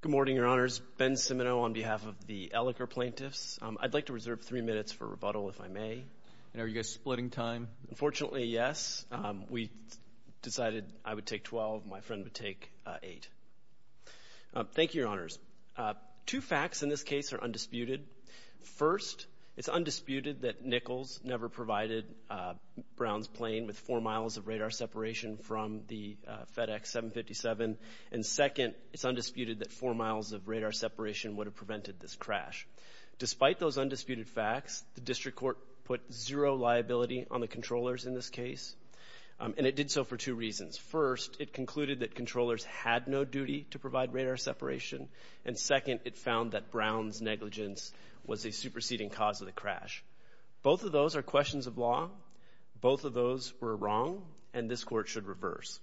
Good morning, Your Honors. Ben Cimino on behalf of the Eliker plaintiffs. I'd like to reserve three minutes for rebuttal, if I may. Are you guys splitting time? Unfortunately, yes. We decided I would take 12, my friend would take 8. Thank you, Your Honors. Two facts in this case are undisputed. First, it's undisputed that Nichols never provided Brown's plane with four miles of radar separation from the FedEx 757. And second, it's undisputed that four miles of radar separation would have prevented this crash. Despite those undisputed facts, the district court put zero liability on the controllers in this case. And it did so for two reasons. First, it concluded that controllers had no duty to provide radar separation. And second, it found that Brown's negligence was a superseding cause of the crash. Both of those are questions of law. Both of those were wrong, and this court should reverse.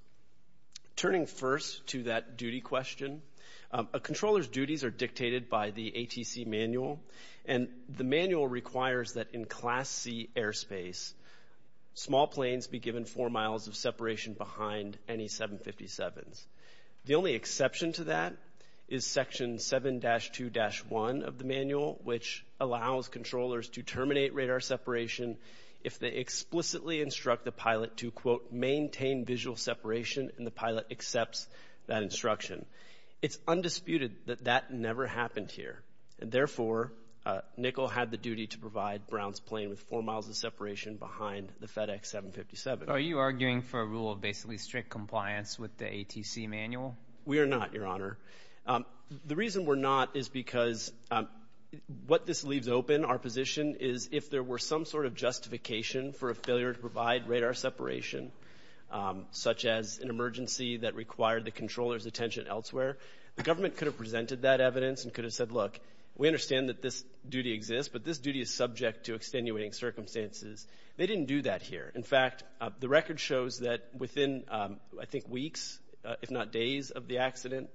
Turning first to that duty question, a controller's duties are dictated by the ATC manual. And the manual requires that in Class C airspace, small planes be given four miles of separation behind any 757s. The only exception to that is Section 7-2-1 of the manual, which allows controllers to terminate radar separation if they explicitly instruct the pilot to, quote, maintain visual separation, and the pilot accepts that instruction. It's undisputed that that never happened here. And therefore, Nichols had the duty to provide Brown's plane with four miles of separation behind the FedEx 757. Are you arguing for a rule of basically strict compliance with the ATC manual? We are not, Your Honor. The reason we're not is because what this leaves open, our position is if there were some sort of justification for a failure to provide radar separation, such as an emergency that required the controller's attention elsewhere, the government could have presented that evidence and could have said, look, we understand that this duty exists, but this duty is subject to extenuating circumstances. They didn't do that here. In fact, the record shows that within, I think, weeks, if not days of the accident,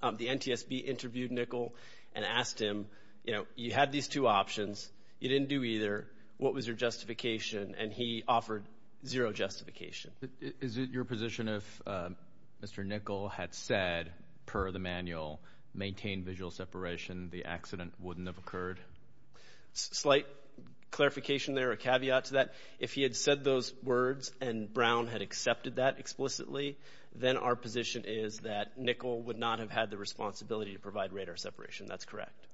the NTSB interviewed Nichols and asked him, you know, you had these two options. You didn't do either. What was your justification? And he offered zero justification. Is it your position if Mr. Nichols had said, per the manual, maintain visual separation, the accident wouldn't have occurred? Slight clarification there, a caveat to that. If he had said those words and Brown had accepted that explicitly, then our position is that Nichols would not have had the responsibility to provide radar separation. That's correct.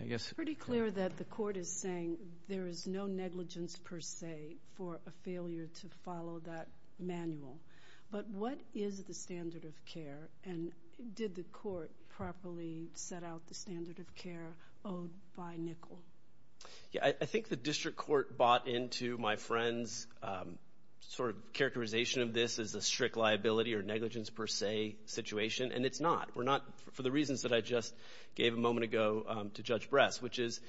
I guess... Pretty clear that the court is saying there is no negligence, per se, for a failure to follow that manual. But what is the standard of care? And did the court properly set out the standard of care owed by Nichols? Yeah, I think the district court bought into my friend's sort of characterization of this as a strict liability or negligence, per se, situation, and it's not. We're not, for the reasons that I just gave a moment ago to Judge Bress, which is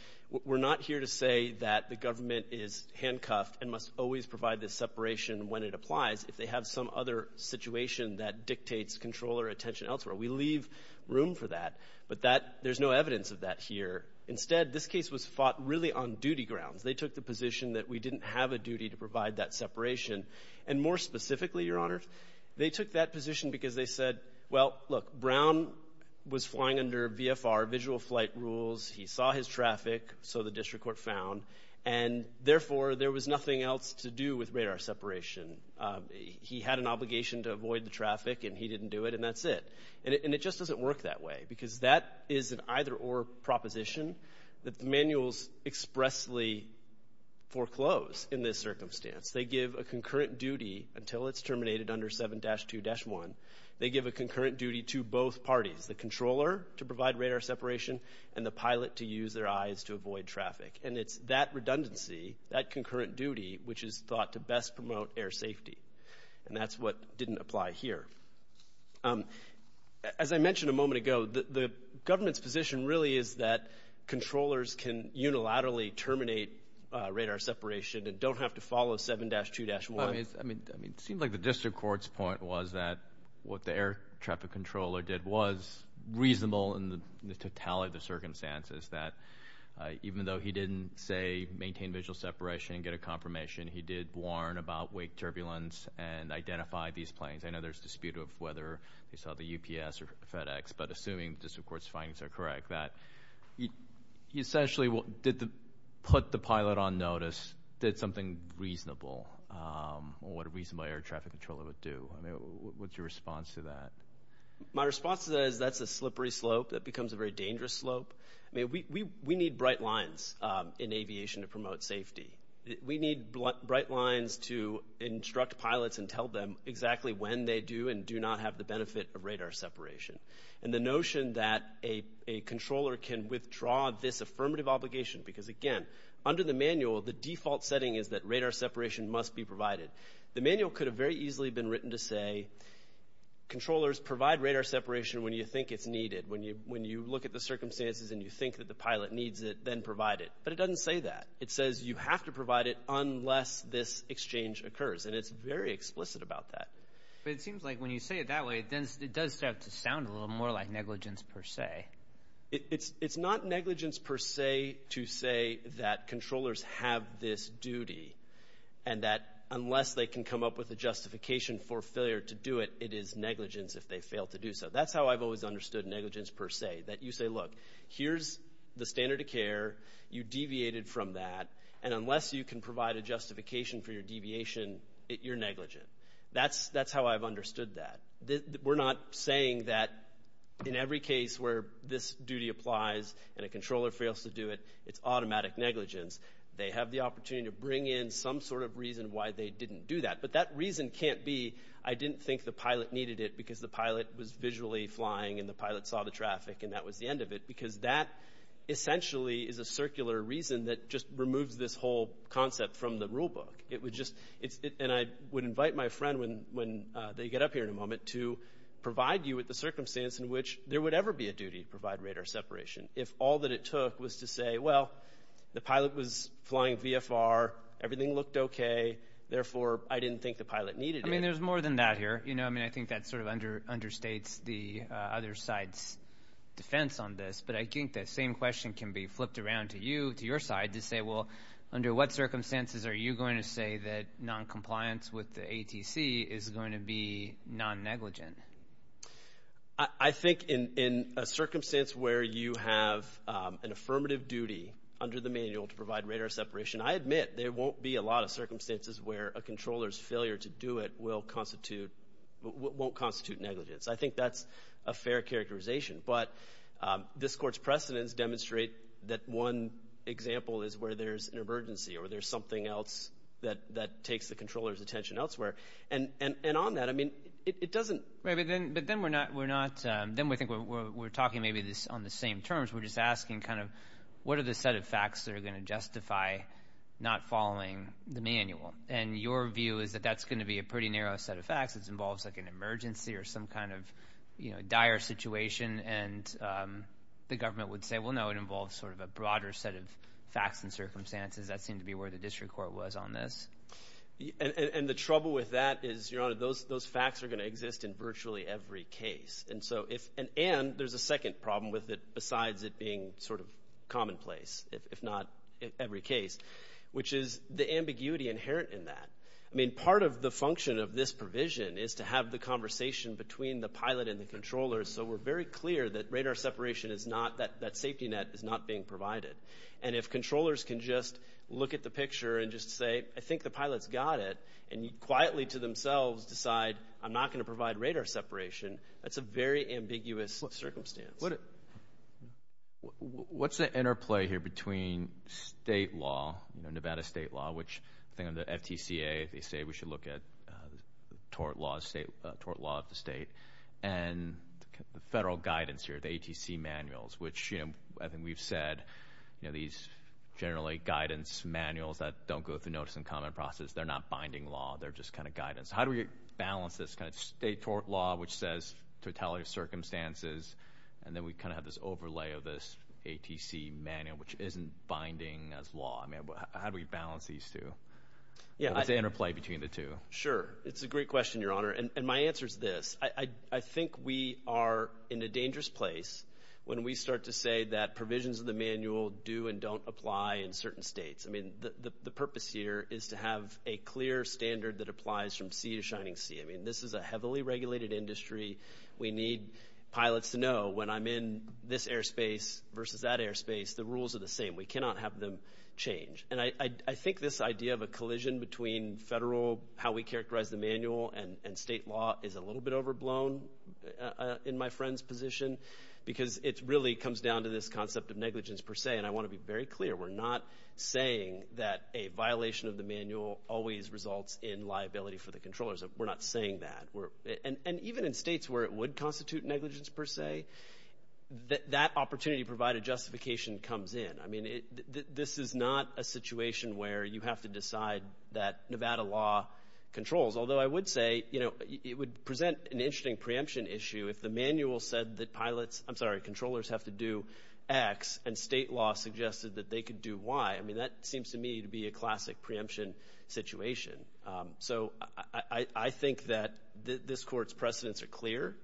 we're not here to say that the government is handcuffed and must always provide this separation when it applies if they have some other situation that dictates control or attention elsewhere. We leave room for that, but there's no evidence of that here. Instead, this case was fought really on duty grounds. They took the position that we didn't have a duty to provide that separation. And more specifically, Your Honor, they took that position because they said, well, look, Brown was flying under VFR, visual flight rules. He saw his traffic, so the district court found, and therefore, there was nothing else to do with radar separation. He had an obligation to avoid the traffic, and he didn't do it, and that's it. And it just doesn't work that way because that is an either-or proposition that the manuals expressly foreclose in this circumstance. They give a concurrent duty until it's terminated under 7-2-1. They give a concurrent duty to both parties, the controller to provide radar separation and the pilot to use their eyes to avoid traffic. And it's that redundancy, that concurrent duty, which is thought to best promote air safety, and that's what didn't apply here. As I mentioned a moment ago, the government's position really is that controllers can unilaterally terminate radar separation and don't have to follow 7-2-1. I mean, it seems like the district court's point was that what the air traffic controller did was reasonable in the totality of the circumstances, that even though he didn't say maintain visual separation and get a confirmation, he did warn about wake turbulence and identify these planes. I know there's a dispute of whether they saw the UPS or FedEx, but assuming the district court's findings are correct, that he essentially put the pilot on notice, did something reasonable, or what a reasonable air traffic controller would do. I mean, what's your response to that? My response to that is that's a slippery slope that becomes a very dangerous slope. I mean, we need bright lines in aviation to promote safety. We need bright lines to instruct pilots and tell them exactly when they do and do not have the benefit of radar separation. And the notion that a controller can withdraw this affirmative obligation, because again, under the manual, the default setting is that radar separation must be provided. The manual could have very easily been written to say, controllers, provide radar separation when you think it's needed, when you look at the circumstances and you think that the pilot needs it, then provide it. But it doesn't say that. It says you have to provide it unless this exchange occurs. And it's very explicit about that. But it seems like when you say it that way, it does start to sound a little more like negligence per se. It's not negligence per se to say that controllers have this duty and that unless they can come up with a justification for failure to do it, it is negligence if they fail to do so. That's how I've always understood negligence per se, that you say, look, here's the standard of care. You deviated from that. And unless you can provide a justification for your deviation, you're negligent. That's how I've understood that. We're not saying that in every case where this duty applies and a controller fails to do it, it's automatic negligence. They have the opportunity to bring in some sort of reason why they didn't do that. But that reason can't be, I didn't think the pilot needed it because the pilot was visually flying and the pilot saw the traffic and that was the end of it. Because that essentially is a circular reason that just removes this whole concept from the rule book. It would just, and I would invite my friend when they get up here in a moment to provide you with the circumstance in which there would ever be a duty to provide radar separation if all that it took was to say, well, the pilot was flying VFR, everything looked okay, therefore I didn't think the pilot needed it. I mean, there's more than that here. You know, I mean, I think that sort of understates the other side's defense on this, but I think that same question can be flipped around to you, to your side to say, well, under what circumstances are you going to say that noncompliance with the ATC is going to be non-negligent? I think in a circumstance where you have an affirmative duty under the manual to provide radar separation, I admit there won't be a lot of circumstances where a controller's going to constitute negligence. I think that's a fair characterization, but this court's precedents demonstrate that one example is where there's an emergency or there's something else that takes the controller's attention elsewhere. And on that, I mean, it doesn't – Right, but then we're not, then we think we're talking maybe on the same terms. We're just asking kind of what are the set of facts that are going to justify not following the manual? And your view is that that's going to be a pretty narrow set of facts. It involves like an emergency or some kind of dire situation, and the government would say, well, no, it involves sort of a broader set of facts and circumstances. That seemed to be where the district court was on this. And the trouble with that is, Your Honor, those facts are going to exist in virtually every case. And so if – and there's a second problem with it besides it being sort of commonplace, if not every case, which is the ambiguity inherent in that. I mean, part of the function of this provision is to have the conversation between the pilot and the controller, so we're very clear that radar separation is not – that safety net is not being provided. And if controllers can just look at the picture and just say, I think the pilot's got it, and quietly to themselves decide, I'm not going to provide radar separation, that's a very ambiguous circumstance. What's the interplay here between state law, Nevada state law, which I think on the FTCA they say we should look at tort laws, state – tort law of the state, and the federal guidance here, the ATC manuals, which, you know, I think we've said, you know, these generally guidance manuals that don't go through notice and comment process, they're not binding law. They're just kind of guidance. How do we balance this kind of state tort law, which says totality of circumstances, and then we kind of have this overlay of this ATC manual, which isn't binding as law? I mean, how do we balance these two? What's the interplay between the two? Sure. It's a great question, Your Honor. And my answer is this. I think we are in a dangerous place when we start to say that provisions of the manual do and don't apply in certain states. I mean, the purpose here is to have a clear standard that applies from sea to shining sea. I mean, this is a heavily regulated industry. We need pilots to know when I'm in this airspace versus that airspace, the rules are the same. We cannot have them between federal, how we characterize the manual, and state law is a little bit overblown in my friend's position, because it really comes down to this concept of negligence per se. And I want to be very clear. We're not saying that a violation of the manual always results in liability for the controllers. We're not saying that. And even in states where it would constitute negligence per se, that opportunity provided justification comes in. I mean, this is not a situation where you have to decide that Nevada law controls. Although I would say, you know, it would present an interesting preemption issue if the manual said that pilots, I'm sorry, controllers have to do X, and state law suggested that they could do Y. I mean, that seems to me to be a classic preemption situation. So I think that this Court's precedents are clear,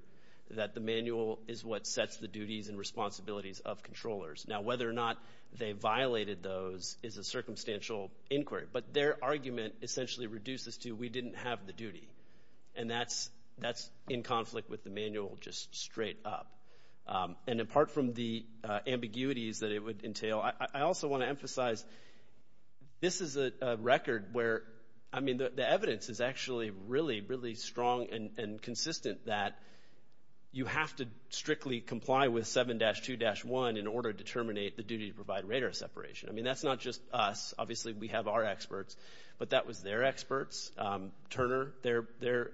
that the manual is what sets the duties and responsibilities of controllers. Now, whether or not they violated those is a circumstantial inquiry. But their argument essentially reduces to, we didn't have the duty. And that's in conflict with the manual, just straight up. And apart from the ambiguities that it would entail, I also want to emphasize, this is a record where, I mean, the evidence is actually really, really strong and consistent that you have to strictly comply with 7-2-1 in order to terminate the duty to provide radar separation. I mean, that's not just us. Obviously, we have our experts. But that was their experts. Turner, their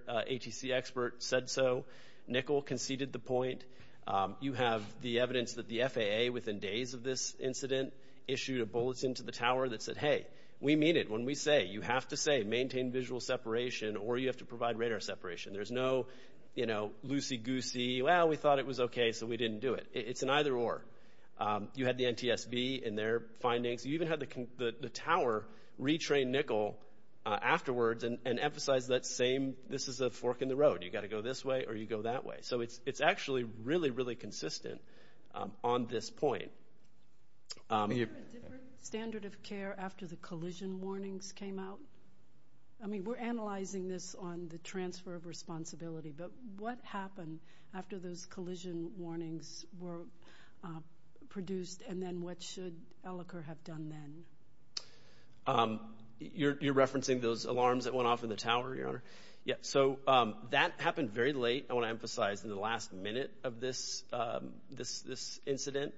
ATC expert, said so. Nickel conceded the point. You have the evidence that the FAA, within days of this incident, issued a bulletin to the Tower that said, hey, we mean it when we say, you have to say, maintain visual separation or you have to provide radar separation. There's no, you know, loosey-goosey, well, we thought it was okay, so we didn't do it. It's an either-or. You had the NTSB and their findings. You even had the Tower retrain Nickel afterwards and emphasize that same, this is a fork in the road. You've got to go this way or you go that way. So it's actually really, really consistent on this point. Is there a different standard of care after the collision warnings came out? I mean, we're analyzing this on the transfer of responsibility, but what happened after those collision warnings were produced and then what should Ellicott have done then? You're referencing those alarms that went off in the Tower, Your Honor? Yeah, so that happened very late. I want to emphasize in the last minute of this incident,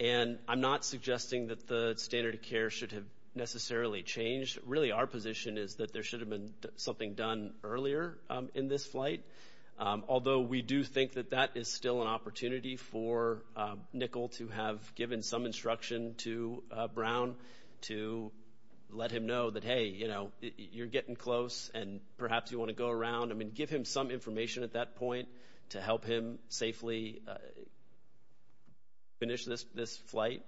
and I'm not suggesting that the standard of care should have necessarily changed. Really, our position is that there should have been something done earlier in this flight, although we do think that that is still an opportunity for Nickel to have given some instruction to Brown to let him know that, hey, you know, you're getting close and perhaps you want to go around. I mean, give him some information at that point to help him safely finish this flight.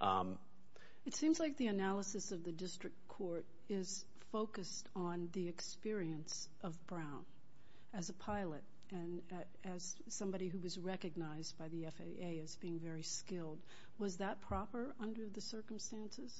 It seems like the analysis of the district court is focused on the experience of Brown as a pilot and as somebody who was recognized by the FAA as being very skilled. Was that proper under the circumstances?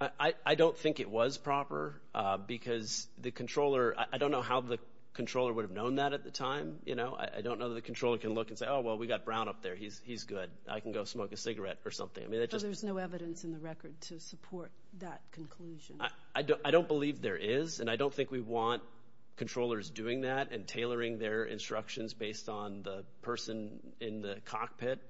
I don't think it was proper because the controller, I don't know how the controller would have known that at the time. I don't know that the controller can look and say, oh, well, we got Brown up there. He's good. I can go smoke a cigarette or something. Because there's no evidence in the record to support that conclusion. I don't believe there is, and I don't think we want controllers doing that and tailoring their instructions based on the person in the cockpit.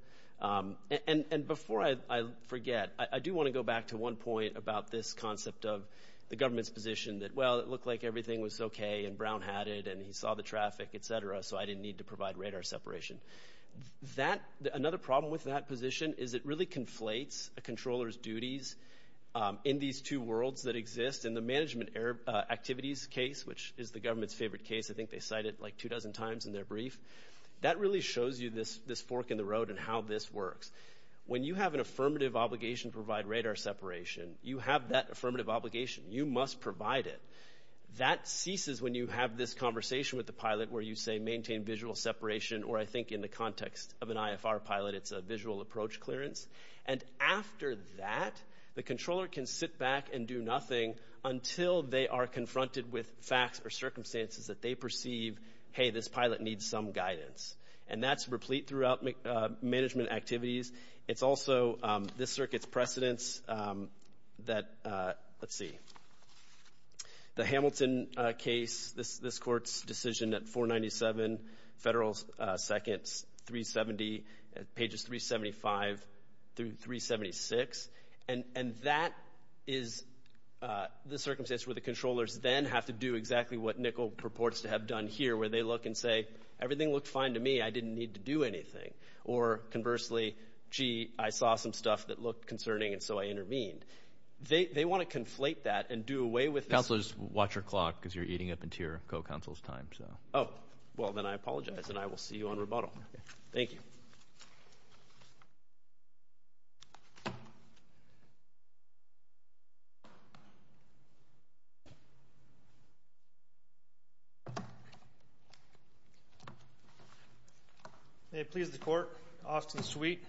And before I forget, I do want to go back to one point about this concept of the government's position that, well, it looked like everything was okay and Brown had it and he saw the traffic, et cetera, so I didn't need to provide radar separation. Another problem with that position is it really conflates a controller's duties in these two worlds that exist. In the management activities case, which is the government's favorite case, I think they cite it like two dozen times in their brief, that really shows you this fork in the road and how this works. When you have an affirmative obligation to provide radar separation, you have that affirmative obligation. You must provide it. That ceases when you have this conversation with the pilot where you say maintain visual separation or I think in the context of an IFR pilot, it's a visual approach clearance. And after that, the controller can sit back and do nothing until they are confronted with facts or circumstances that they perceive, hey, this pilot needs some guidance. And that's replete throughout management activities. It's also this circuit's precedence that, let's see, the Hamilton case this court's decision at 497 Federal Seconds 370, pages 375 through 376. And that is the circumstance where the controllers then have to do exactly what Nickel purports to have done here where they look and say everything looked fine to me. I didn't need to do anything. Or conversely, gee, I saw some stuff that looked concerning and so I intervened. They want to conflate that and do away with this. Counselor, just watch your clock because you're eating up into your co-counsel's time. Oh, well then I apologize and I will see you on rebuttal. Thank you. May it please the court, Austin Sweet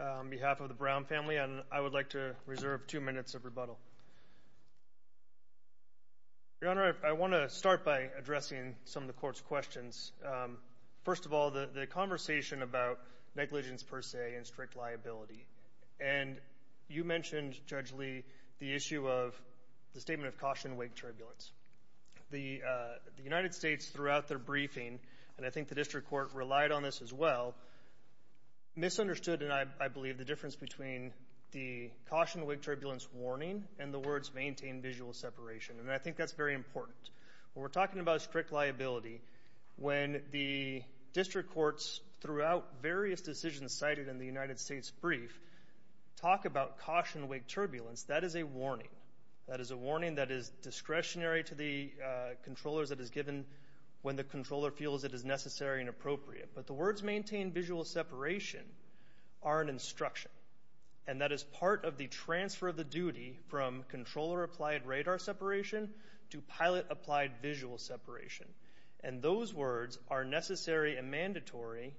on behalf of the Brown family, I would like to reserve two minutes of rebuttal. Your Honor, I want to start by addressing some of the court's questions. First of all, the conversation about negligence per se and strict liability. And you mentioned, Judge Lee, the issue of the statement of caution-wake turbulence. The United States throughout their briefing, and I think the district court relied on this as well, misunderstood and I believe the difference between the caution-wake turbulence warning and the words maintain visual separation. And I think that's very important. When we're talking about strict liability, when the district courts throughout various decisions cited in the United States brief talk about caution-wake turbulence, that is a warning. That is a warning that is discretionary to the controllers that is given when the controller feels it is necessary and appropriate. But the words maintain visual separation are an instruction. And that is part of the transfer of the duty from controller-applied radar separation to pilot-applied visual separation. And those words are necessary and mandatory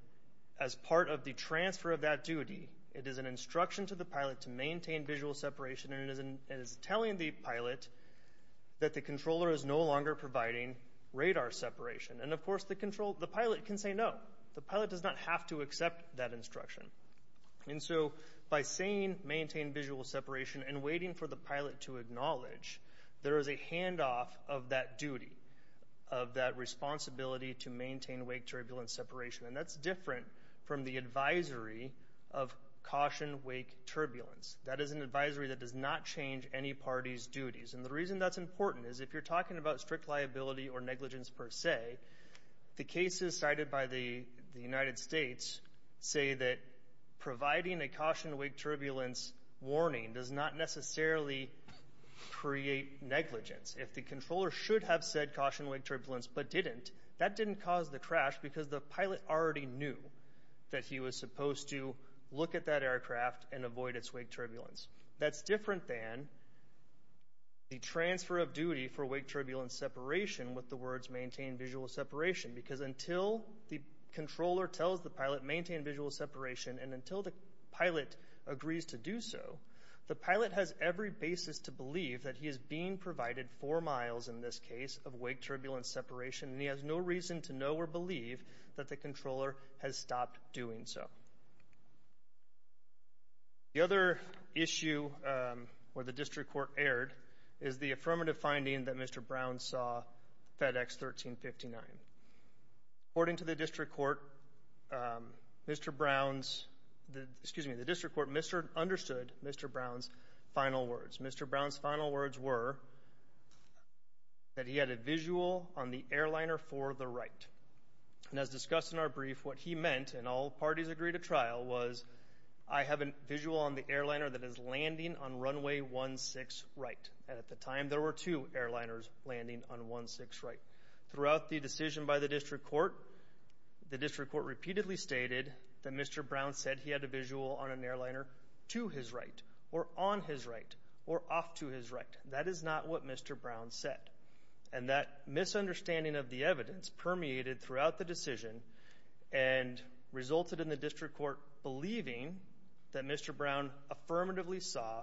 as part of the transfer of that duty. It is an instruction to the pilot to maintain visual separation and it is telling the pilot that the controller is no longer providing radar separation. And of course the pilot can say no. The pilot does not have to accept that instruction. And so by saying maintain visual separation and waiting for the pilot to acknowledge, there is a handoff of that duty, of that responsibility to maintain wake turbulence separation. And that's different from the advisory of caution-wake turbulence. That is an advisory that does not change any party's duties. And the reason that's important is if you're talking about strict liability or negligence per se, the cases cited by the United States say that providing a caution-wake turbulence warning does not necessarily create negligence. If the controller should have said caution-wake turbulence but didn't, that didn't cause the crash because the pilot already knew that he was supposed to look at that aircraft and avoid its wake turbulence. That's different than the transfer of duty for wake turbulence separation with the words maintain visual separation. Because until the controller tells the pilot maintain visual separation and until the pilot agrees to do so, the pilot has every basis to believe that he is being provided four miles in this case of wake turbulence separation and he has no reason to know or where the district court erred is the affirmative finding that Mr. Brown saw FedEx 1359. According to the district court, Mr. Brown's, excuse me, the district court understood Mr. Brown's final words. Mr. Brown's final words were that he had a visual on the airliner for the right. And as discussed in our brief, what he meant, and all parties agreed to trial, was I have a visual on the airliner that is landing on runway 16 right. And at the time there were two airliners landing on 16 right. Throughout the decision by the district court, the district court repeatedly stated that Mr. Brown said he had a visual on an airliner to his right or on his right or off to his right. That is not what Mr. Brown said. And that misunderstanding of the evidence permeated throughout the decision and resulted in the district court believing that Mr. Brown affirmatively saw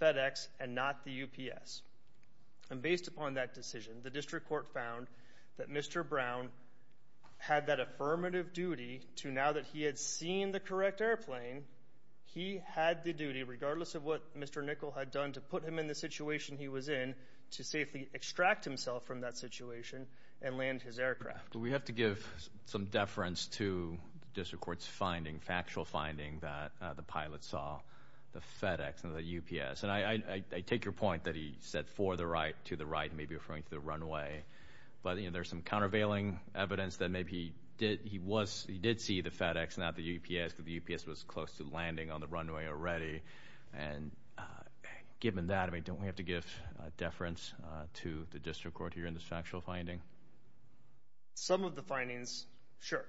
FedEx and not the UPS. And based upon that decision, the district court found that Mr. Brown had that affirmative duty to now that he had seen the correct airplane, he had the duty, regardless of what Mr. Nickel had done to put him in the situation he was in, to safely extract himself from that situation and land his aircraft. We have to give some deference to the district court's finding, factual finding, that the pilot saw the FedEx and the UPS. And I take your point that he said for the right, to the right, maybe referring to the runway. But there's some countervailing evidence that maybe he did see the FedEx, not the UPS, because the UPS was close to landing on the runway already. And given that, don't we have to give deference to the district court here in this factual finding? Some of the findings, sure.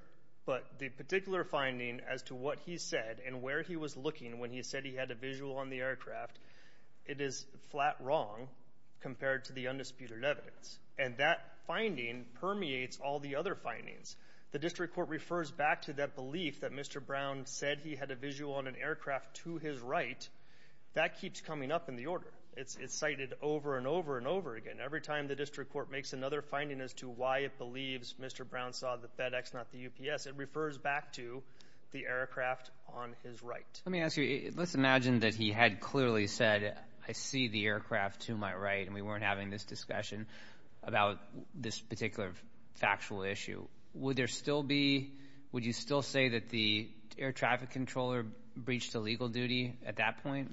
But the particular finding as to what he said and where he was looking when he said he had a visual on the aircraft, it is flat wrong compared to the undisputed evidence. And that finding permeates all the other findings. The district court refers back to that belief that Mr. Brown said he had a visual on an aircraft to his right. That keeps coming up in the order. It's cited over and over and over again. Every time the district court makes another finding as to why it believes Mr. Brown saw the FedEx, not the UPS, it refers back to the aircraft on his right. Let me ask you, let's imagine that he had clearly said, I see the aircraft to my right and we weren't having this discussion about this particular factual issue. Would there still be, would you still say that the air traffic controller breached a legal duty at that point?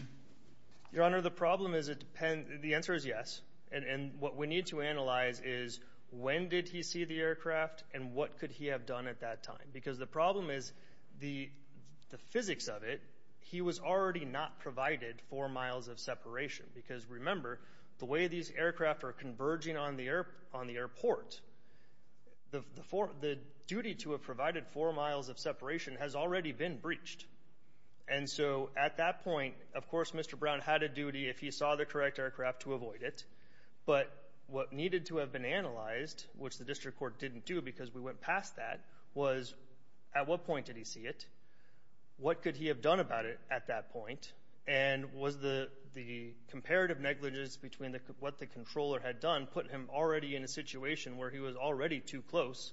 Your Honor, the problem is it depends, the answer is yes. And what we need to analyze is when did he see the aircraft and what could he have done at that time? Because the problem is the physics of it, he was already not provided four miles of separation. Because remember, the way these aircraft are converging on the airport, the duty to have provided four miles of separation has already been breached. And so at that point, of course, Mr. Brown had a duty if he saw the correct aircraft to avoid it. But what needed to have been analyzed, which the district court didn't do because we went past that, was at what point did he see it? What could he have done about it at that point? And was the comparative negligence between what the controller had done put him already in a situation where he was already too close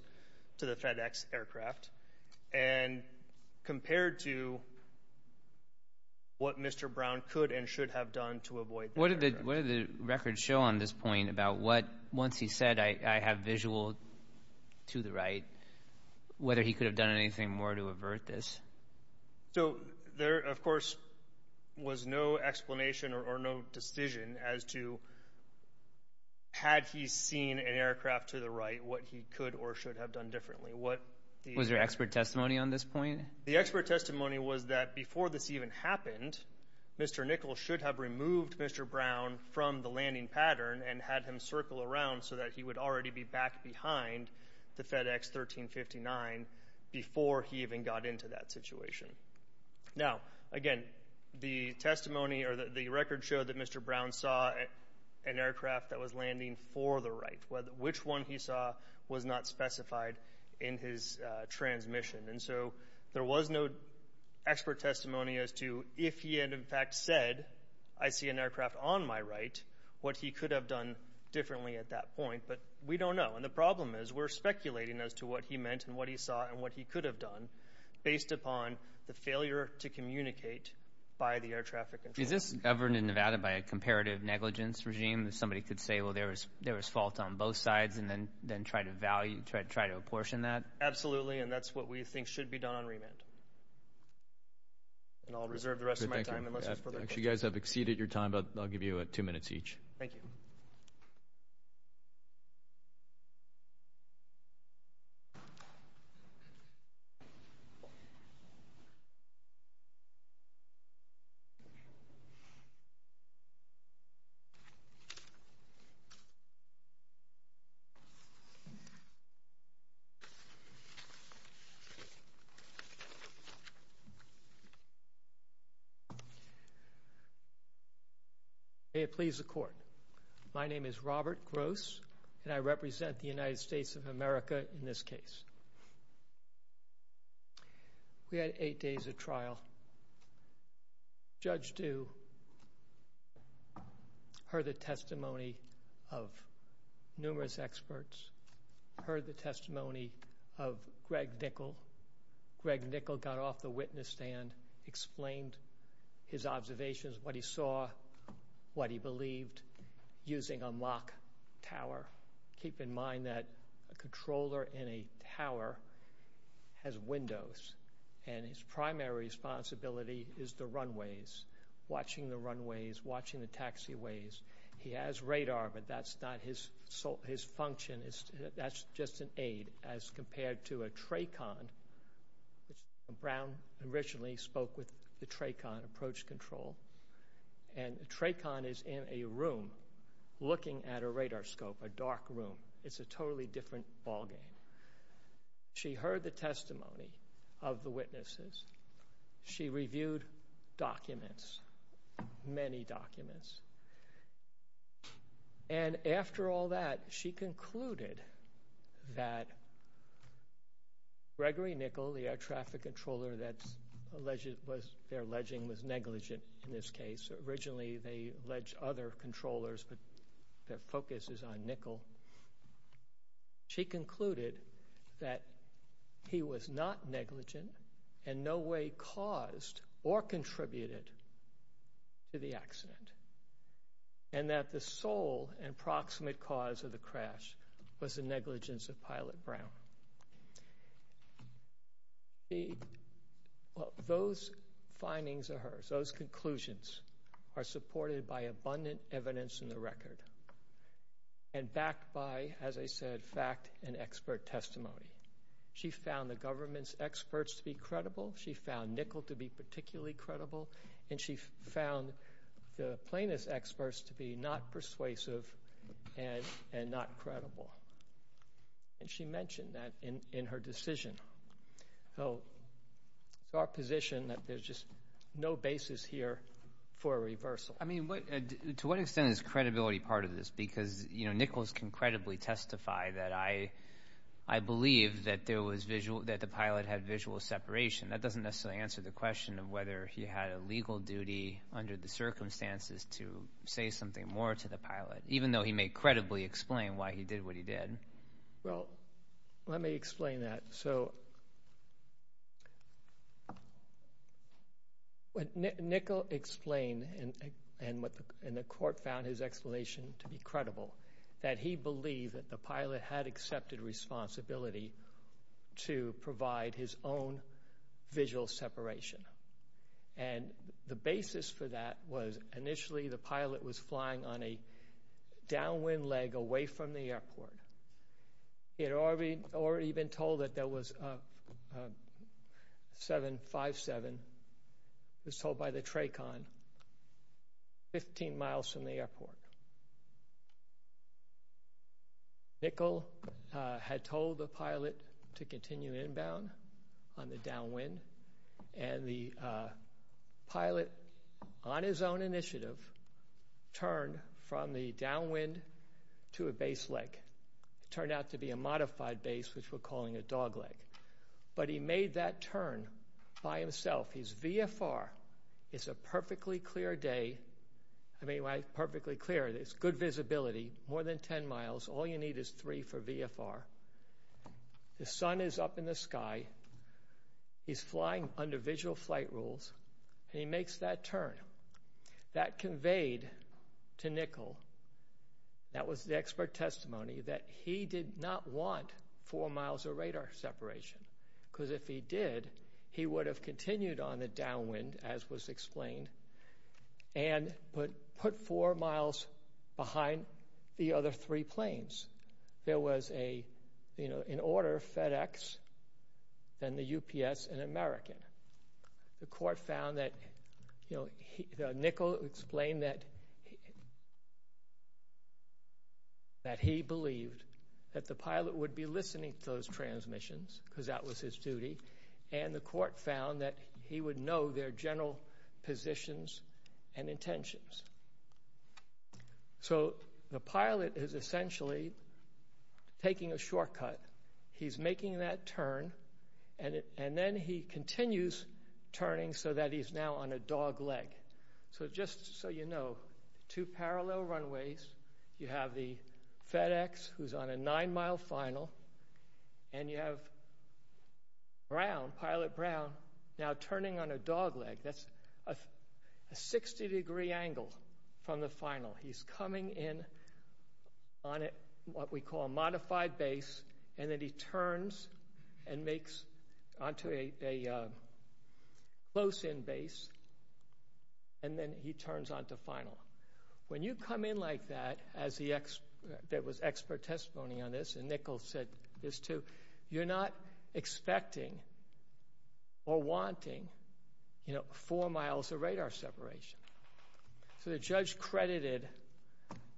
to the FedEx aircraft, and compared to what Mr. Brown could and should have done to avoid the aircraft? What did the records show on this point about what, once he said, I have visual to the right, whether he could have done anything more to avert this? So there, of course, was no explanation or no decision as to had he seen an aircraft to the right, what he could or should have done differently. Was there expert testimony on this point? The expert testimony was that before this even happened, Mr. Nichols should have removed Mr. Brown from the landing pattern and had him circle around so that he would already be back behind the FedEx 1359 before he even got into that situation. Now, again, the testimony or the record showed that Mr. Brown saw an aircraft that was landing for the right, which one he saw was not specified in his transmission. And so there was no expert testimony as to if he had, in fact, said, I see an aircraft on my right, what he could have done differently at that point. But we don't know. And the problem is we're speculating as to what he meant and what he saw and what he could have done based upon the failure to communicate by the air traffic control. Is this governed in Nevada by a comparative negligence regime? Somebody could say, well, there was fault on both sides and then try to value, try to apportion that? Absolutely. And that's what we think should be done on remand. And I'll reserve the rest of my time unless there's further questions. You guys have exceeded your time, but I'll give you two minutes each. Thank you. May it please the Court. My name is Robert Gross, and I represent the United States of America in this case. We had eight days of trial. Judge Due heard the testimony of numerous experts, heard the testimony of Greg Nickel. Greg Nickel got off the witness stand, explained his observations, what he saw, what he believed, using a mock tower. Keep in mind that a controller in a tower has windows, and his primary responsibility is the runways, watching the runways, watching the taxiways. He has radar, but that's not his function. That's just an aid as compared to a TRACON, which Brown originally spoke with the TRACON, Approach Control. And a TRACON is in a room looking at a radar scope, a dark room. It's a totally different ballgame. She heard the testimony of the witnesses. She reviewed documents, many documents. And after all that, she concluded that Gregory Nickel, the air traffic controller that's alleged was, their alleging was negligent in this case. Originally, they were controllers, but their focus is on Nickel. She concluded that he was not negligent in no way caused or contributed to the accident, and that the sole and proximate cause of the crash was the negligence of Pilot Brown. Those findings of hers, those conclusions, are supported by abundant evidence in the record, and backed by, as I said, fact and expert testimony. She found the government's experts to be credible. She found Nickel to be particularly credible, and she found the plaintiff's experts to be not persuasive and not credible. And she mentioned that in her decision. So, it's our position that there's just no basis here for a reversal. Well, I mean, to what extent is credibility part of this? Because, you know, Nickel can credibly testify that, I believe, that the pilot had visual separation. That doesn't necessarily answer the question of whether he had a legal duty under the circumstances to say something more to the pilot, even though he may credibly explain why he did what he did. Well, let me explain that. So, Nickel explained, and the court found his explanation to be credible, that he believed that the pilot had accepted responsibility to provide his own visual separation. And the basis for that was, initially, the pilot was flying on a downwind leg away from the airport. He had already been told that there was a 757, it was told by the TRACON, 15 miles from the airport. Nickel had told the pilot to continue inbound on the downwind, and the pilot, on his own initiative, turned from the downwind to a base leg. It turned out to be a modified base, which we're calling a dog leg. But he made that turn by himself. His VFR is a perfectly clear day. I mean, perfectly clear. It's good visibility, more than 10 miles. All you need is three for VFR. The sun is up in the sky. He's flying under visual flight rules, and he makes that turn. That conveyed to Nickel, that was the expert testimony, that he did not want four miles of radar separation, because if he did, he would have continued on the downwind, as was explained, and put four miles behind the other three planes. There was an order of FedEx, then the UPS, and American. The court found that, you know, Nickel explained that he believed that the pilot would be listening to those transmissions, because that was his duty, and the court found that he would know their general positions and intentions. So, the pilot is essentially taking a shortcut. He's making that turn, and then he continues turning so that he's now on a dog leg. So, just so you know, two parallel runways, you have the FedEx, who's on a nine-mile final, and you have Brown, Pilot Brown, now turning on a dog leg. That's a 60-degree angle from the final. He's coming in on what we call a modified base, and then he turns and makes onto a close-in base, and then he turns onto final. When you come in like that, there was expert testimony on this, and Nickel said this, too, you're not expecting or wanting four miles of radar separation. So, the judge credited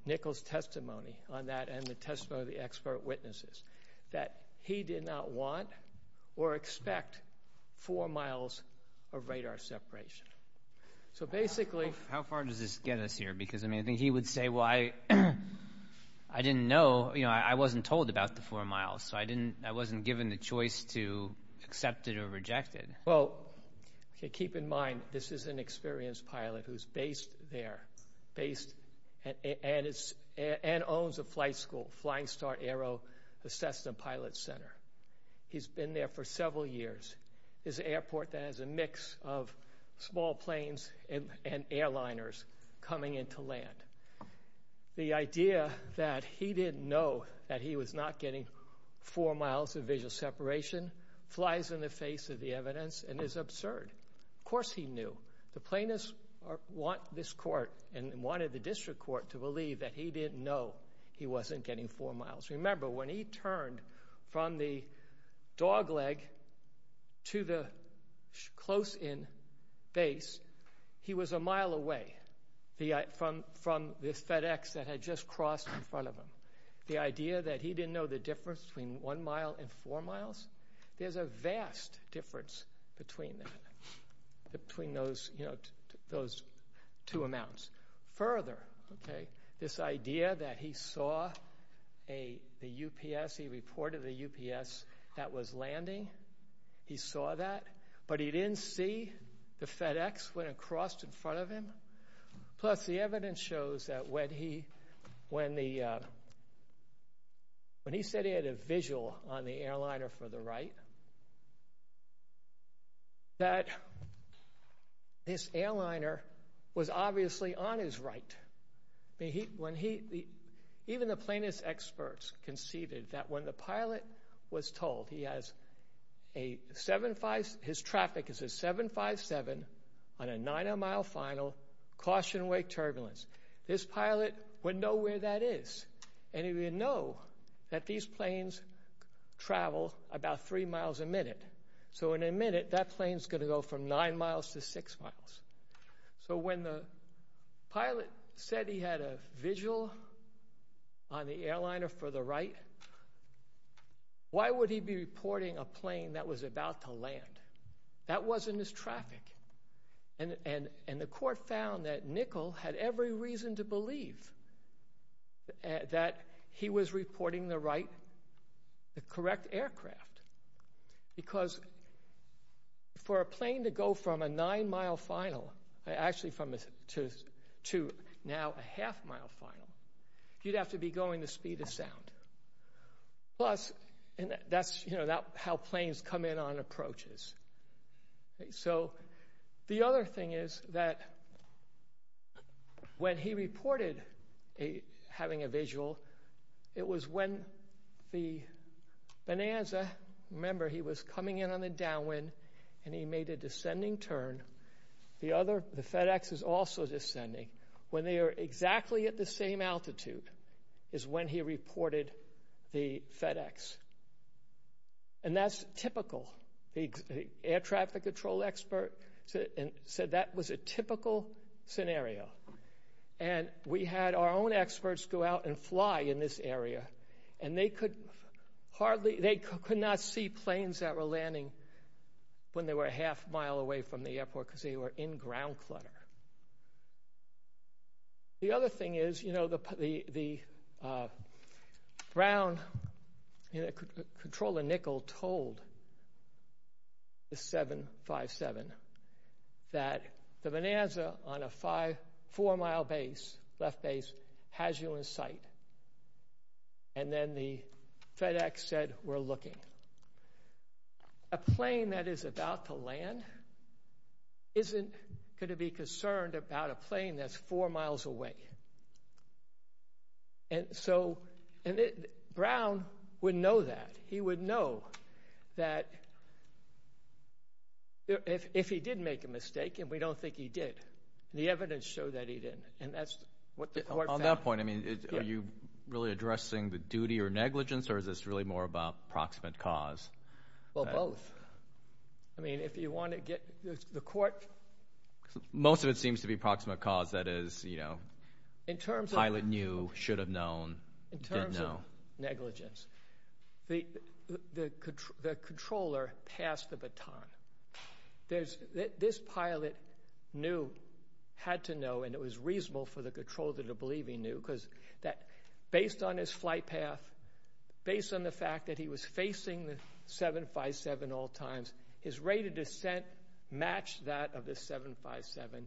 Nickel's testimony on that, and the testimony of the expert witnesses, that he did not want or expect four miles of radar separation. How far does this get us here? Because, I mean, I think he would say, well, I didn't know, you know, I wasn't told about the four miles, so I wasn't given the choice to accept it or reject it. Well, keep in mind, this is an experienced pilot who's based there, and owns a flight school, Flying Start Aero, the Cessna Pilot Center. He's been there for several years. It's an airport that has a mix of small planes and airliners coming in to land. The idea that he didn't know that he was not getting four miles of visual separation flies in the face of the evidence and is absurd. Of course he knew. The plaintiffs want this court and wanted the district court to believe that he didn't know he wasn't getting four miles. Remember, when he turned from the dogleg to the close-in base, he was a mile away from this FedEx that had just crossed in front of him. The idea that he didn't know the difference between one mile and four miles, there's a vast difference between those two amounts. Further, this idea that he saw the UPS, he reported the UPS that was landing, he saw that, but he didn't see the FedEx went across in front of him. Plus, the evidence shows that when he said he had a visual on the airliner for the right, that this airliner was obviously on his right. Even the plaintiff's experts conceded that when the pilot was told his traffic is a 757 on a nine-mile final, caution wake turbulence, this pilot wouldn't know where that is. He wouldn't know that these planes travel about three miles a minute. In a minute, that plane's going to go from nine miles to six miles. When the pilot said he had a visual on the airliner for the right, why would he be reporting a plane that was about to land? That wasn't his traffic. And the court found that Nickel had every reason to believe that he was reporting the right, the correct aircraft. Because for a plane to go from a nine-mile final, actually to now a half-mile final, you'd have to be going the speed of sound. Plus, that's how planes come in on approaches. So, the other thing is that when he reported having a visual, it was when the Bonanza, remember he was coming in on the downwind, and he made a descending turn. The FedEx is also descending. When they are exactly at the same altitude is when he reported the FedEx. And that's typical. The air traffic control expert said that was a typical scenario. And we had our own experts go out and fly in this area, and they could hardly, they could not see planes that were landing when they were a half-mile away from the airport because they were in ground clutter. The other thing is, you know, the ground control in Nickel told the 757 that the Bonanza on a four-mile base, left base, has you in sight. And then the FedEx said, we're looking. A plane that is about to land isn't going to be concerned about a plane that's four miles away. And so, Brown would know that. He would know that if he did make a mistake, and we don't think he did, the evidence showed that he didn't. And that's what the court found. I mean, are you really addressing the duty or negligence, or is this really more about proximate cause? Well, both. I mean, if you want to get, the court... Most of it seems to be proximate cause, that is, you know, pilot knew, should have known, didn't know. The controller passed the baton. This pilot knew, had to know, and it was reasonable for the controller to believe he knew, because based on his flight path, based on the fact that he was facing the 757 at all times, his rate of descent matched that of the 757.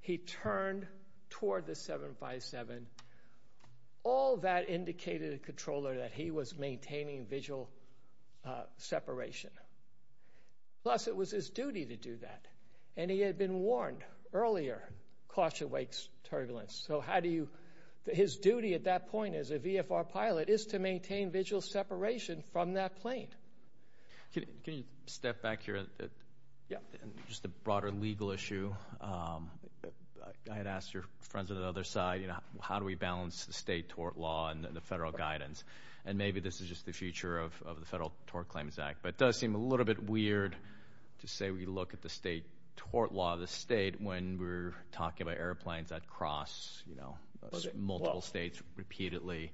He turned toward the 757. All that indicated to the controller that he was maintaining visual separation. Plus, it was his duty to do that, and he had been warned earlier, caution awakes turbulence. So how do you, his duty at that point as a VFR pilot is to maintain visual separation from that plane. Can you step back here? Yeah. Just a broader legal issue. I had asked your friends on the other side, you know, how do we balance the state tort law and the federal guidance? And maybe this is just the future of the Federal Tort Claims Act, but it does seem a little bit weird to say we look at the state tort law of the state when we're talking about airplanes that cross, you know, multiple states repeatedly.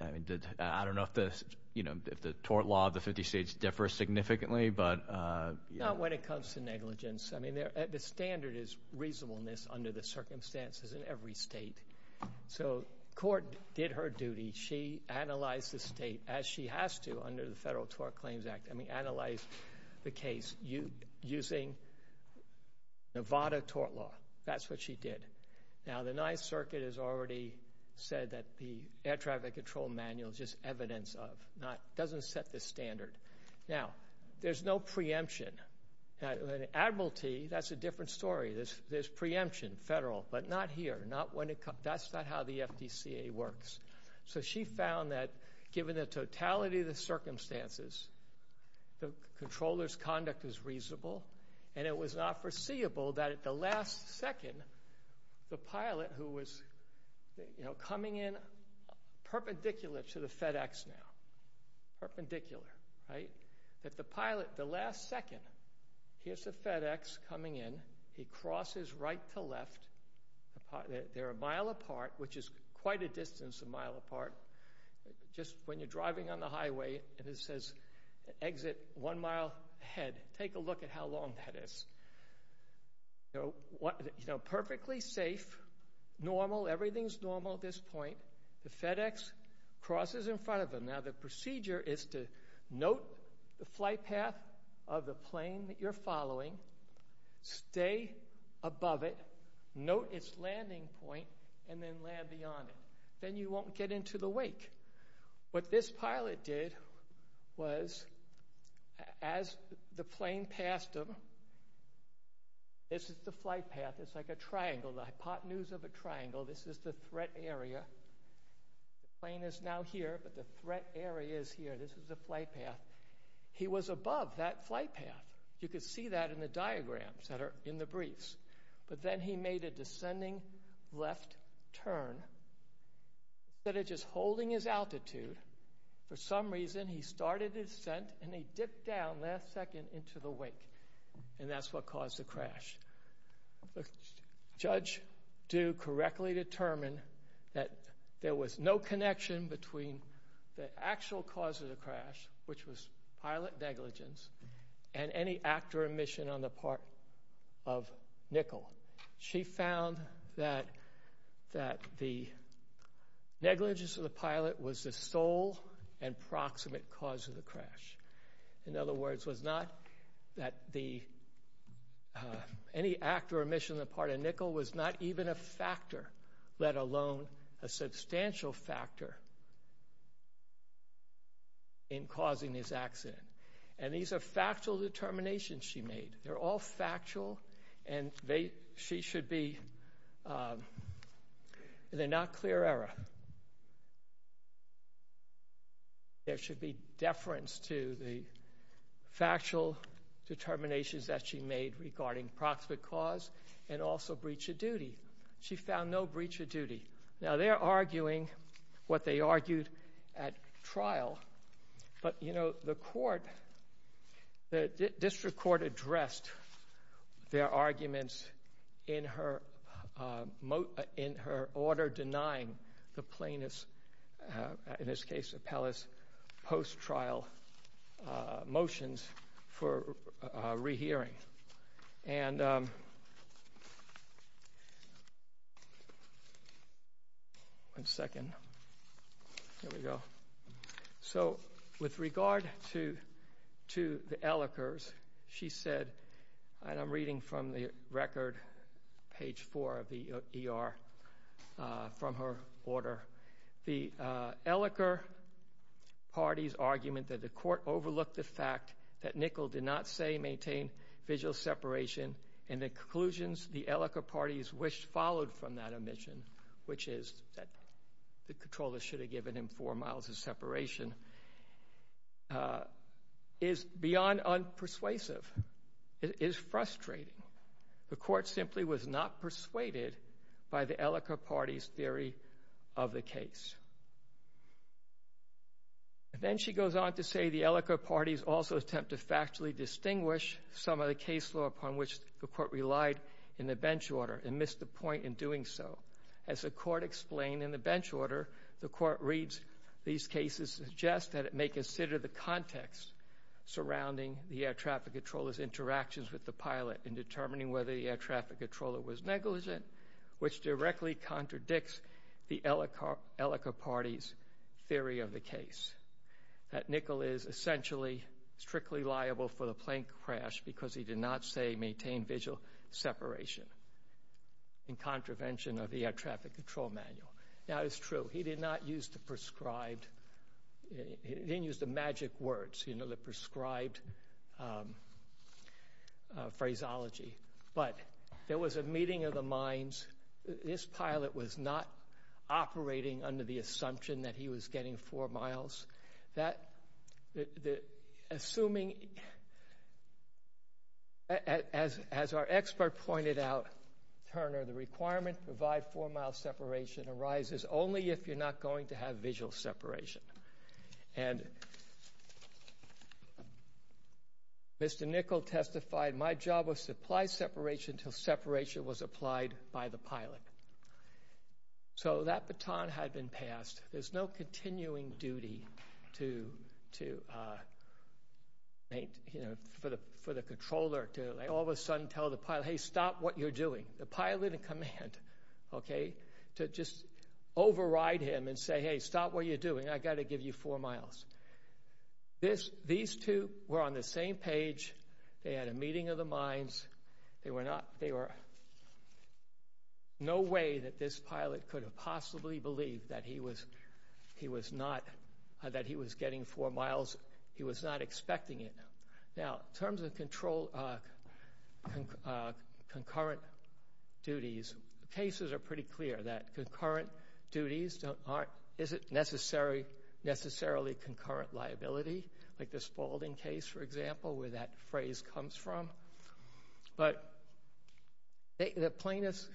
I mean, I don't know if the, you know, if the tort law of the 50 states differs significantly, but yeah. Not when it comes to negligence. I mean, the standard is reasonableness under the circumstances in every state. So Court did her duty. She analyzed the state as she has to under the Federal Tort Claims Act. I mean, analyzed the case using Nevada tort law. That's what she did. Now, the Ninth Circuit has already said that the Air Traffic Control Manual is just evidence of, doesn't set the standard. Now, there's no preemption. Admiralty, that's a different story. There's preemption, federal, but not here. That's not how the FDCA works. So she found that given the totality of the circumstances, the controller's conduct is reasonable, and it was not foreseeable that at the last second, the pilot, who was, you know, coming in perpendicular to the FedEx now, perpendicular, right? That the pilot, the last second, here's the FedEx coming in. He crosses right to left. They're a mile apart, which is quite a distance a mile apart. Just when you're driving on the highway and it says exit one mile ahead, take a look at how long that is. You know, perfectly safe, normal, everything's normal at this point. The FedEx crosses in front of them. Now, the procedure is to note the flight path of the plane that you're following, stay above it, note its landing point, and then land beyond it. Then you won't get into the wake. What this pilot did was, as the plane passed him, this is the flight path. It's like a triangle, the hypotenuse of a triangle. This is the threat area. The plane is now here, but the threat area is here. This is the flight path. He was above that flight path. You can see that in the diagrams that are in the briefs. Then he made a descending left turn. Instead of just holding his altitude, for some reason, he started his descent and he dipped down last second into the wake. That's what caused the crash. The judge do correctly determine that there was no connection between the actual cause of the crash, which was pilot negligence, and any act or omission on the part of Nicol. She found that the negligence of the pilot was the sole and proximate cause of the crash. In other words, it was not that any act or omission on the part of Nicol was not even a factor, let alone a substantial factor in causing this accident. These are factual determinations she made. They're not clear error. There should be deference to the factual determinations that she made regarding proximate cause and also breach of duty. She found no breach of duty. Now, they're arguing what they argued at trial, but the district court addressed their arguments in her order denying the plaintiff's, in this case, Appellah's, post-trial motions for rehearing. One second. Here we go. So, with regard to the Elicker's, she said, and I'm reading from the record, page four of the ER, from her order, the Elicker party's argument that the court overlooked the fact that Nicol did not, say, maintain visual separation and the conclusions the Elicker party's wish followed from that omission, which is that the controller should have given him four miles of separation, is beyond unpersuasive. It is frustrating. The court simply was not persuaded by the Elicker party's theory of the case. Then she goes on to say the Elicker party's also attempt to factually distinguish some of the case law upon which the court relied in the bench order and missed the point in doing so. As the court explained in the bench order, the court reads these cases suggest that it may consider the context surrounding the air traffic controller's interactions with the pilot in determining whether the air traffic controller was negligent, which directly contradicts the Elicker party's theory of the case, that Nicol is essentially strictly liable for the plane crash because he did not, say, maintain visual separation in contravention of the air traffic control manual. That is true. He did not use the prescribed, he didn't use the magic words, you know, the prescribed phraseology. But there was a meeting of the minds. This pilot was not operating under the assumption that he was getting four miles. Assuming, as our expert pointed out, Turner, the requirement to provide four-mile separation arises only if you're not going to have visual separation. And Mr. Nicol testified, my job was to apply separation until separation was applied by the pilot. So that baton had been passed. There's no continuing duty to, you know, for the controller to all of a sudden tell the pilot, hey, stop what you're doing. The pilot in command, okay, to just override him and say, hey, stop what you're doing. I've got to give you four miles. These two were on the same page. They had a meeting of the minds. They were not, they were, no way that this pilot could have possibly believed that he was, he was not, that he was getting four miles. He was not expecting it. Now, in terms of control, concurrent duties, cases are pretty clear that concurrent duties aren't, isn't necessarily concurrent liability. Like the Spalding case, for example, where that phrase comes from. But the plainest,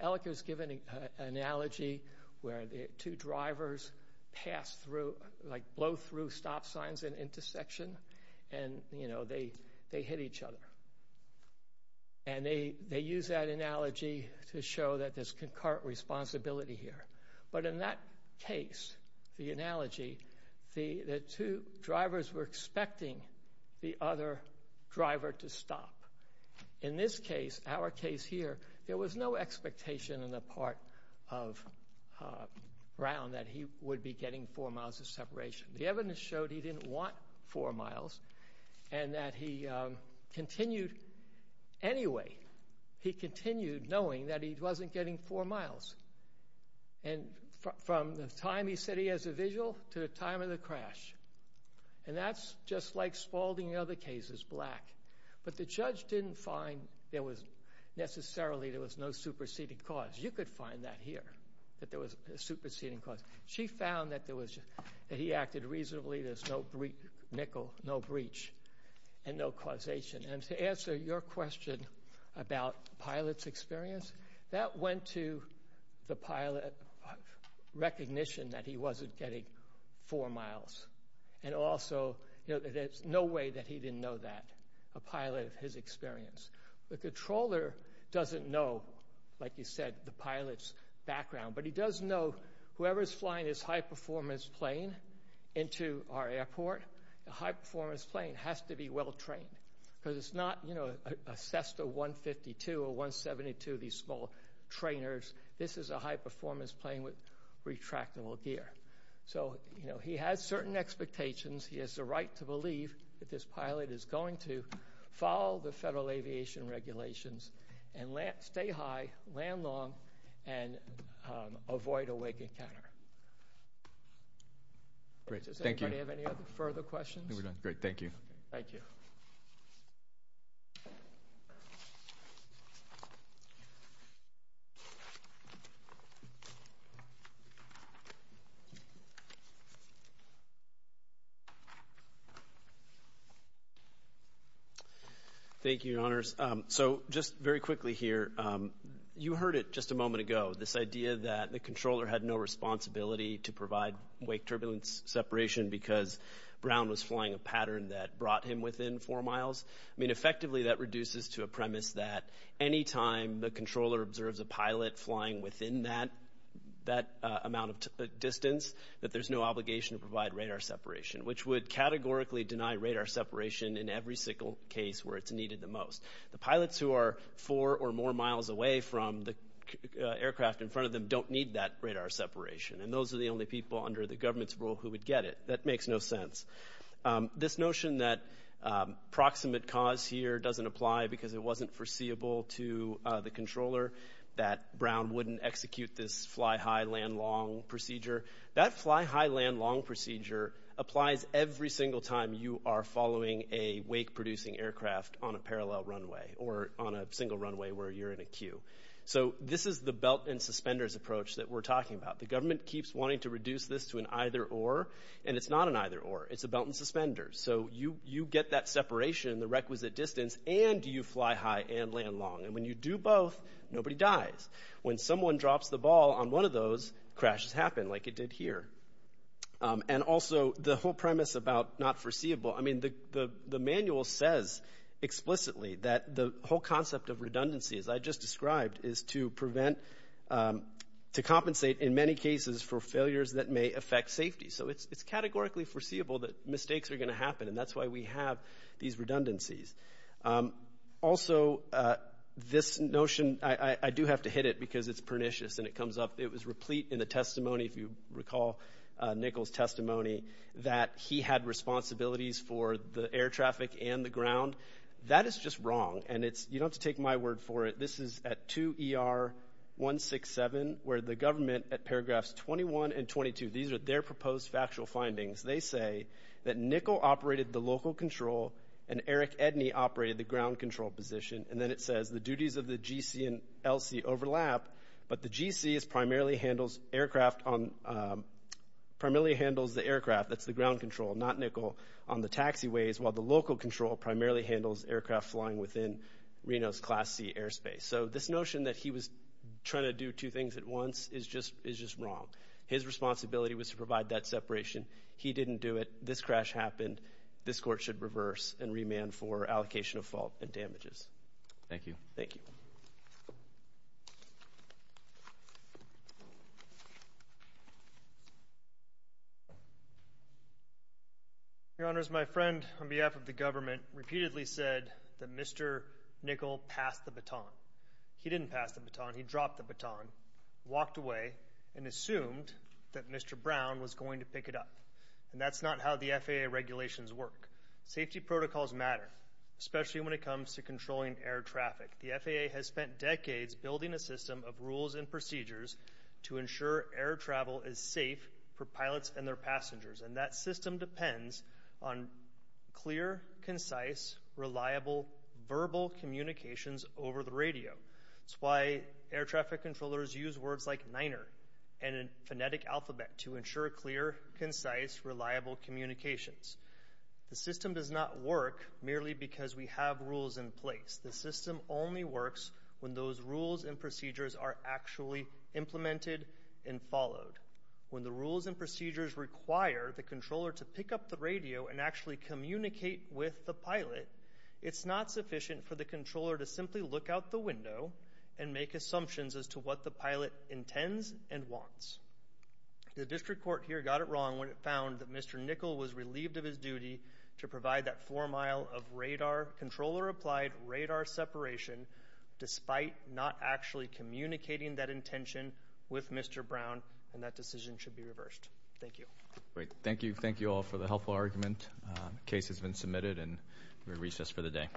Ellicott's given an analogy where the two drivers pass through, like blow through stop signs at an intersection and, you know, they hit each other. And they use that analogy to show that there's concurrent responsibility here. But in that case, the analogy, the two drivers were expecting the other driver to stop. In this case, our case here, there was no expectation on the part of Brown that he would be getting four miles of separation. The evidence showed he didn't want four miles and that he continued, anyway, he continued knowing that he wasn't getting four miles. And from the time he said he has a visual to the time of the crash. And that's just like Spalding and other cases, black. But the judge didn't find there was necessarily, there was no superseding cause. You could find that here, that there was a superseding cause. She found that there was, that he acted reasonably, there's no nickel, no breach, and no causation. And to answer your question about pilot's experience, that went to the pilot recognition that he wasn't getting four miles. And also, there's no way that he didn't know that, a pilot of his experience. The controller doesn't know, like you said, the pilot's background. But he does know whoever's flying his high-performance plane into our airport, a high-performance plane has to be well-trained. Because it's not, you know, a SESTA 152 or 172, these small trainers. This is a high-performance plane with retractable gear. So, you know, he has certain expectations. He has the right to believe that this pilot is going to follow the federal aviation regulations and stay high, land long, and avoid a wake encounter. Great, thank you. Does anybody have any other further questions? No, we're done. Great, thank you. Thank you. Thank you, Your Honors. So just very quickly here, you heard it just a moment ago, this idea that the controller had no responsibility to provide wake turbulence separation because Brown was flying a pattern that brought him within four miles. I mean, effectively, that reduces to a premise that any time the controller observes a pilot flying within that amount of distance, that there's no obligation to provide radar separation, which would categorically deny radar separation in every single case where it's needed the most. The pilots who are four or more miles away from the aircraft in front of them don't need that radar separation, and those are the only people under the government's rule who would get it. That makes no sense. This notion that proximate cause here doesn't apply because it wasn't foreseeable to the controller, that Brown wouldn't execute this fly high, land long procedure, that fly high, land long procedure applies every single time you are following a wake producing aircraft on a parallel runway or on a single runway where you're in a queue. So this is the belt and suspenders approach that we're talking about. The government keeps wanting to reduce this to an either or, and it's not an either or. It's a belt and suspenders. So you get that separation, the requisite distance, and you fly high and land long. And when you do both, nobody dies. When someone drops the ball on one of those, crashes happen like it did here. And also the whole premise about not foreseeable, I mean, the manual says explicitly that the whole concept of redundancy, as I just described, is to prevent, to compensate in many cases for failures that may affect safety. So it's categorically foreseeable that mistakes are going to happen, and that's why we have these redundancies. Also, this notion, I do have to hit it because it's pernicious and it comes up. It was replete in the testimony, if you recall, Nichols' testimony, that he had responsibilities for the air traffic and the ground. That is just wrong, and you don't have to take my word for it. This is at 2 ER 167 where the government, at paragraphs 21 and 22, these are their proposed factual findings. They say that Nichols operated the local control and Eric Edney operated the ground control position, and then it says the duties of the GC and LC overlap, but the GC primarily handles the aircraft, that's the ground control, not Nichols, on the taxiways, while the local control primarily handles aircraft flying within Reno's Class C airspace. So this notion that he was trying to do two things at once is just wrong. His responsibility was to provide that separation. He didn't do it. This crash happened. This court should reverse and remand for allocation of fault and damages. Thank you. Thank you. Your Honors, my friend, on behalf of the government, repeatedly said that Mr. Nichols passed the baton. He didn't pass the baton. He dropped the baton, walked away, and assumed that Mr. Brown was going to pick it up, and that's not how the FAA regulations work. Safety protocols matter, especially when it comes to controlling air traffic. The FAA has spent decades building a system of rules and procedures to ensure air travel is safe for pilots and their passengers, and that system depends on clear, concise, reliable, verbal communications over the radio. That's why air traffic controllers use words like Niner and a phonetic alphabet to ensure clear, concise, reliable communications. The system does not work merely because we have rules in place. The system only works when those rules and procedures are actually implemented and followed. When the rules and procedures require the controller to pick up the radio and actually communicate with the pilot, it's not sufficient for the controller to simply look out the window and make assumptions as to what the pilot intends and wants. The district court here got it wrong when it found that Mr. Nichols was relieved of his duty to provide that four-mile of radar, controller-applied radar separation, despite not actually communicating that intention with Mr. Brown, and that decision should be reversed. Thank you. Thank you. Thank you all for the helpful argument. The case has been submitted, and we recess for the day.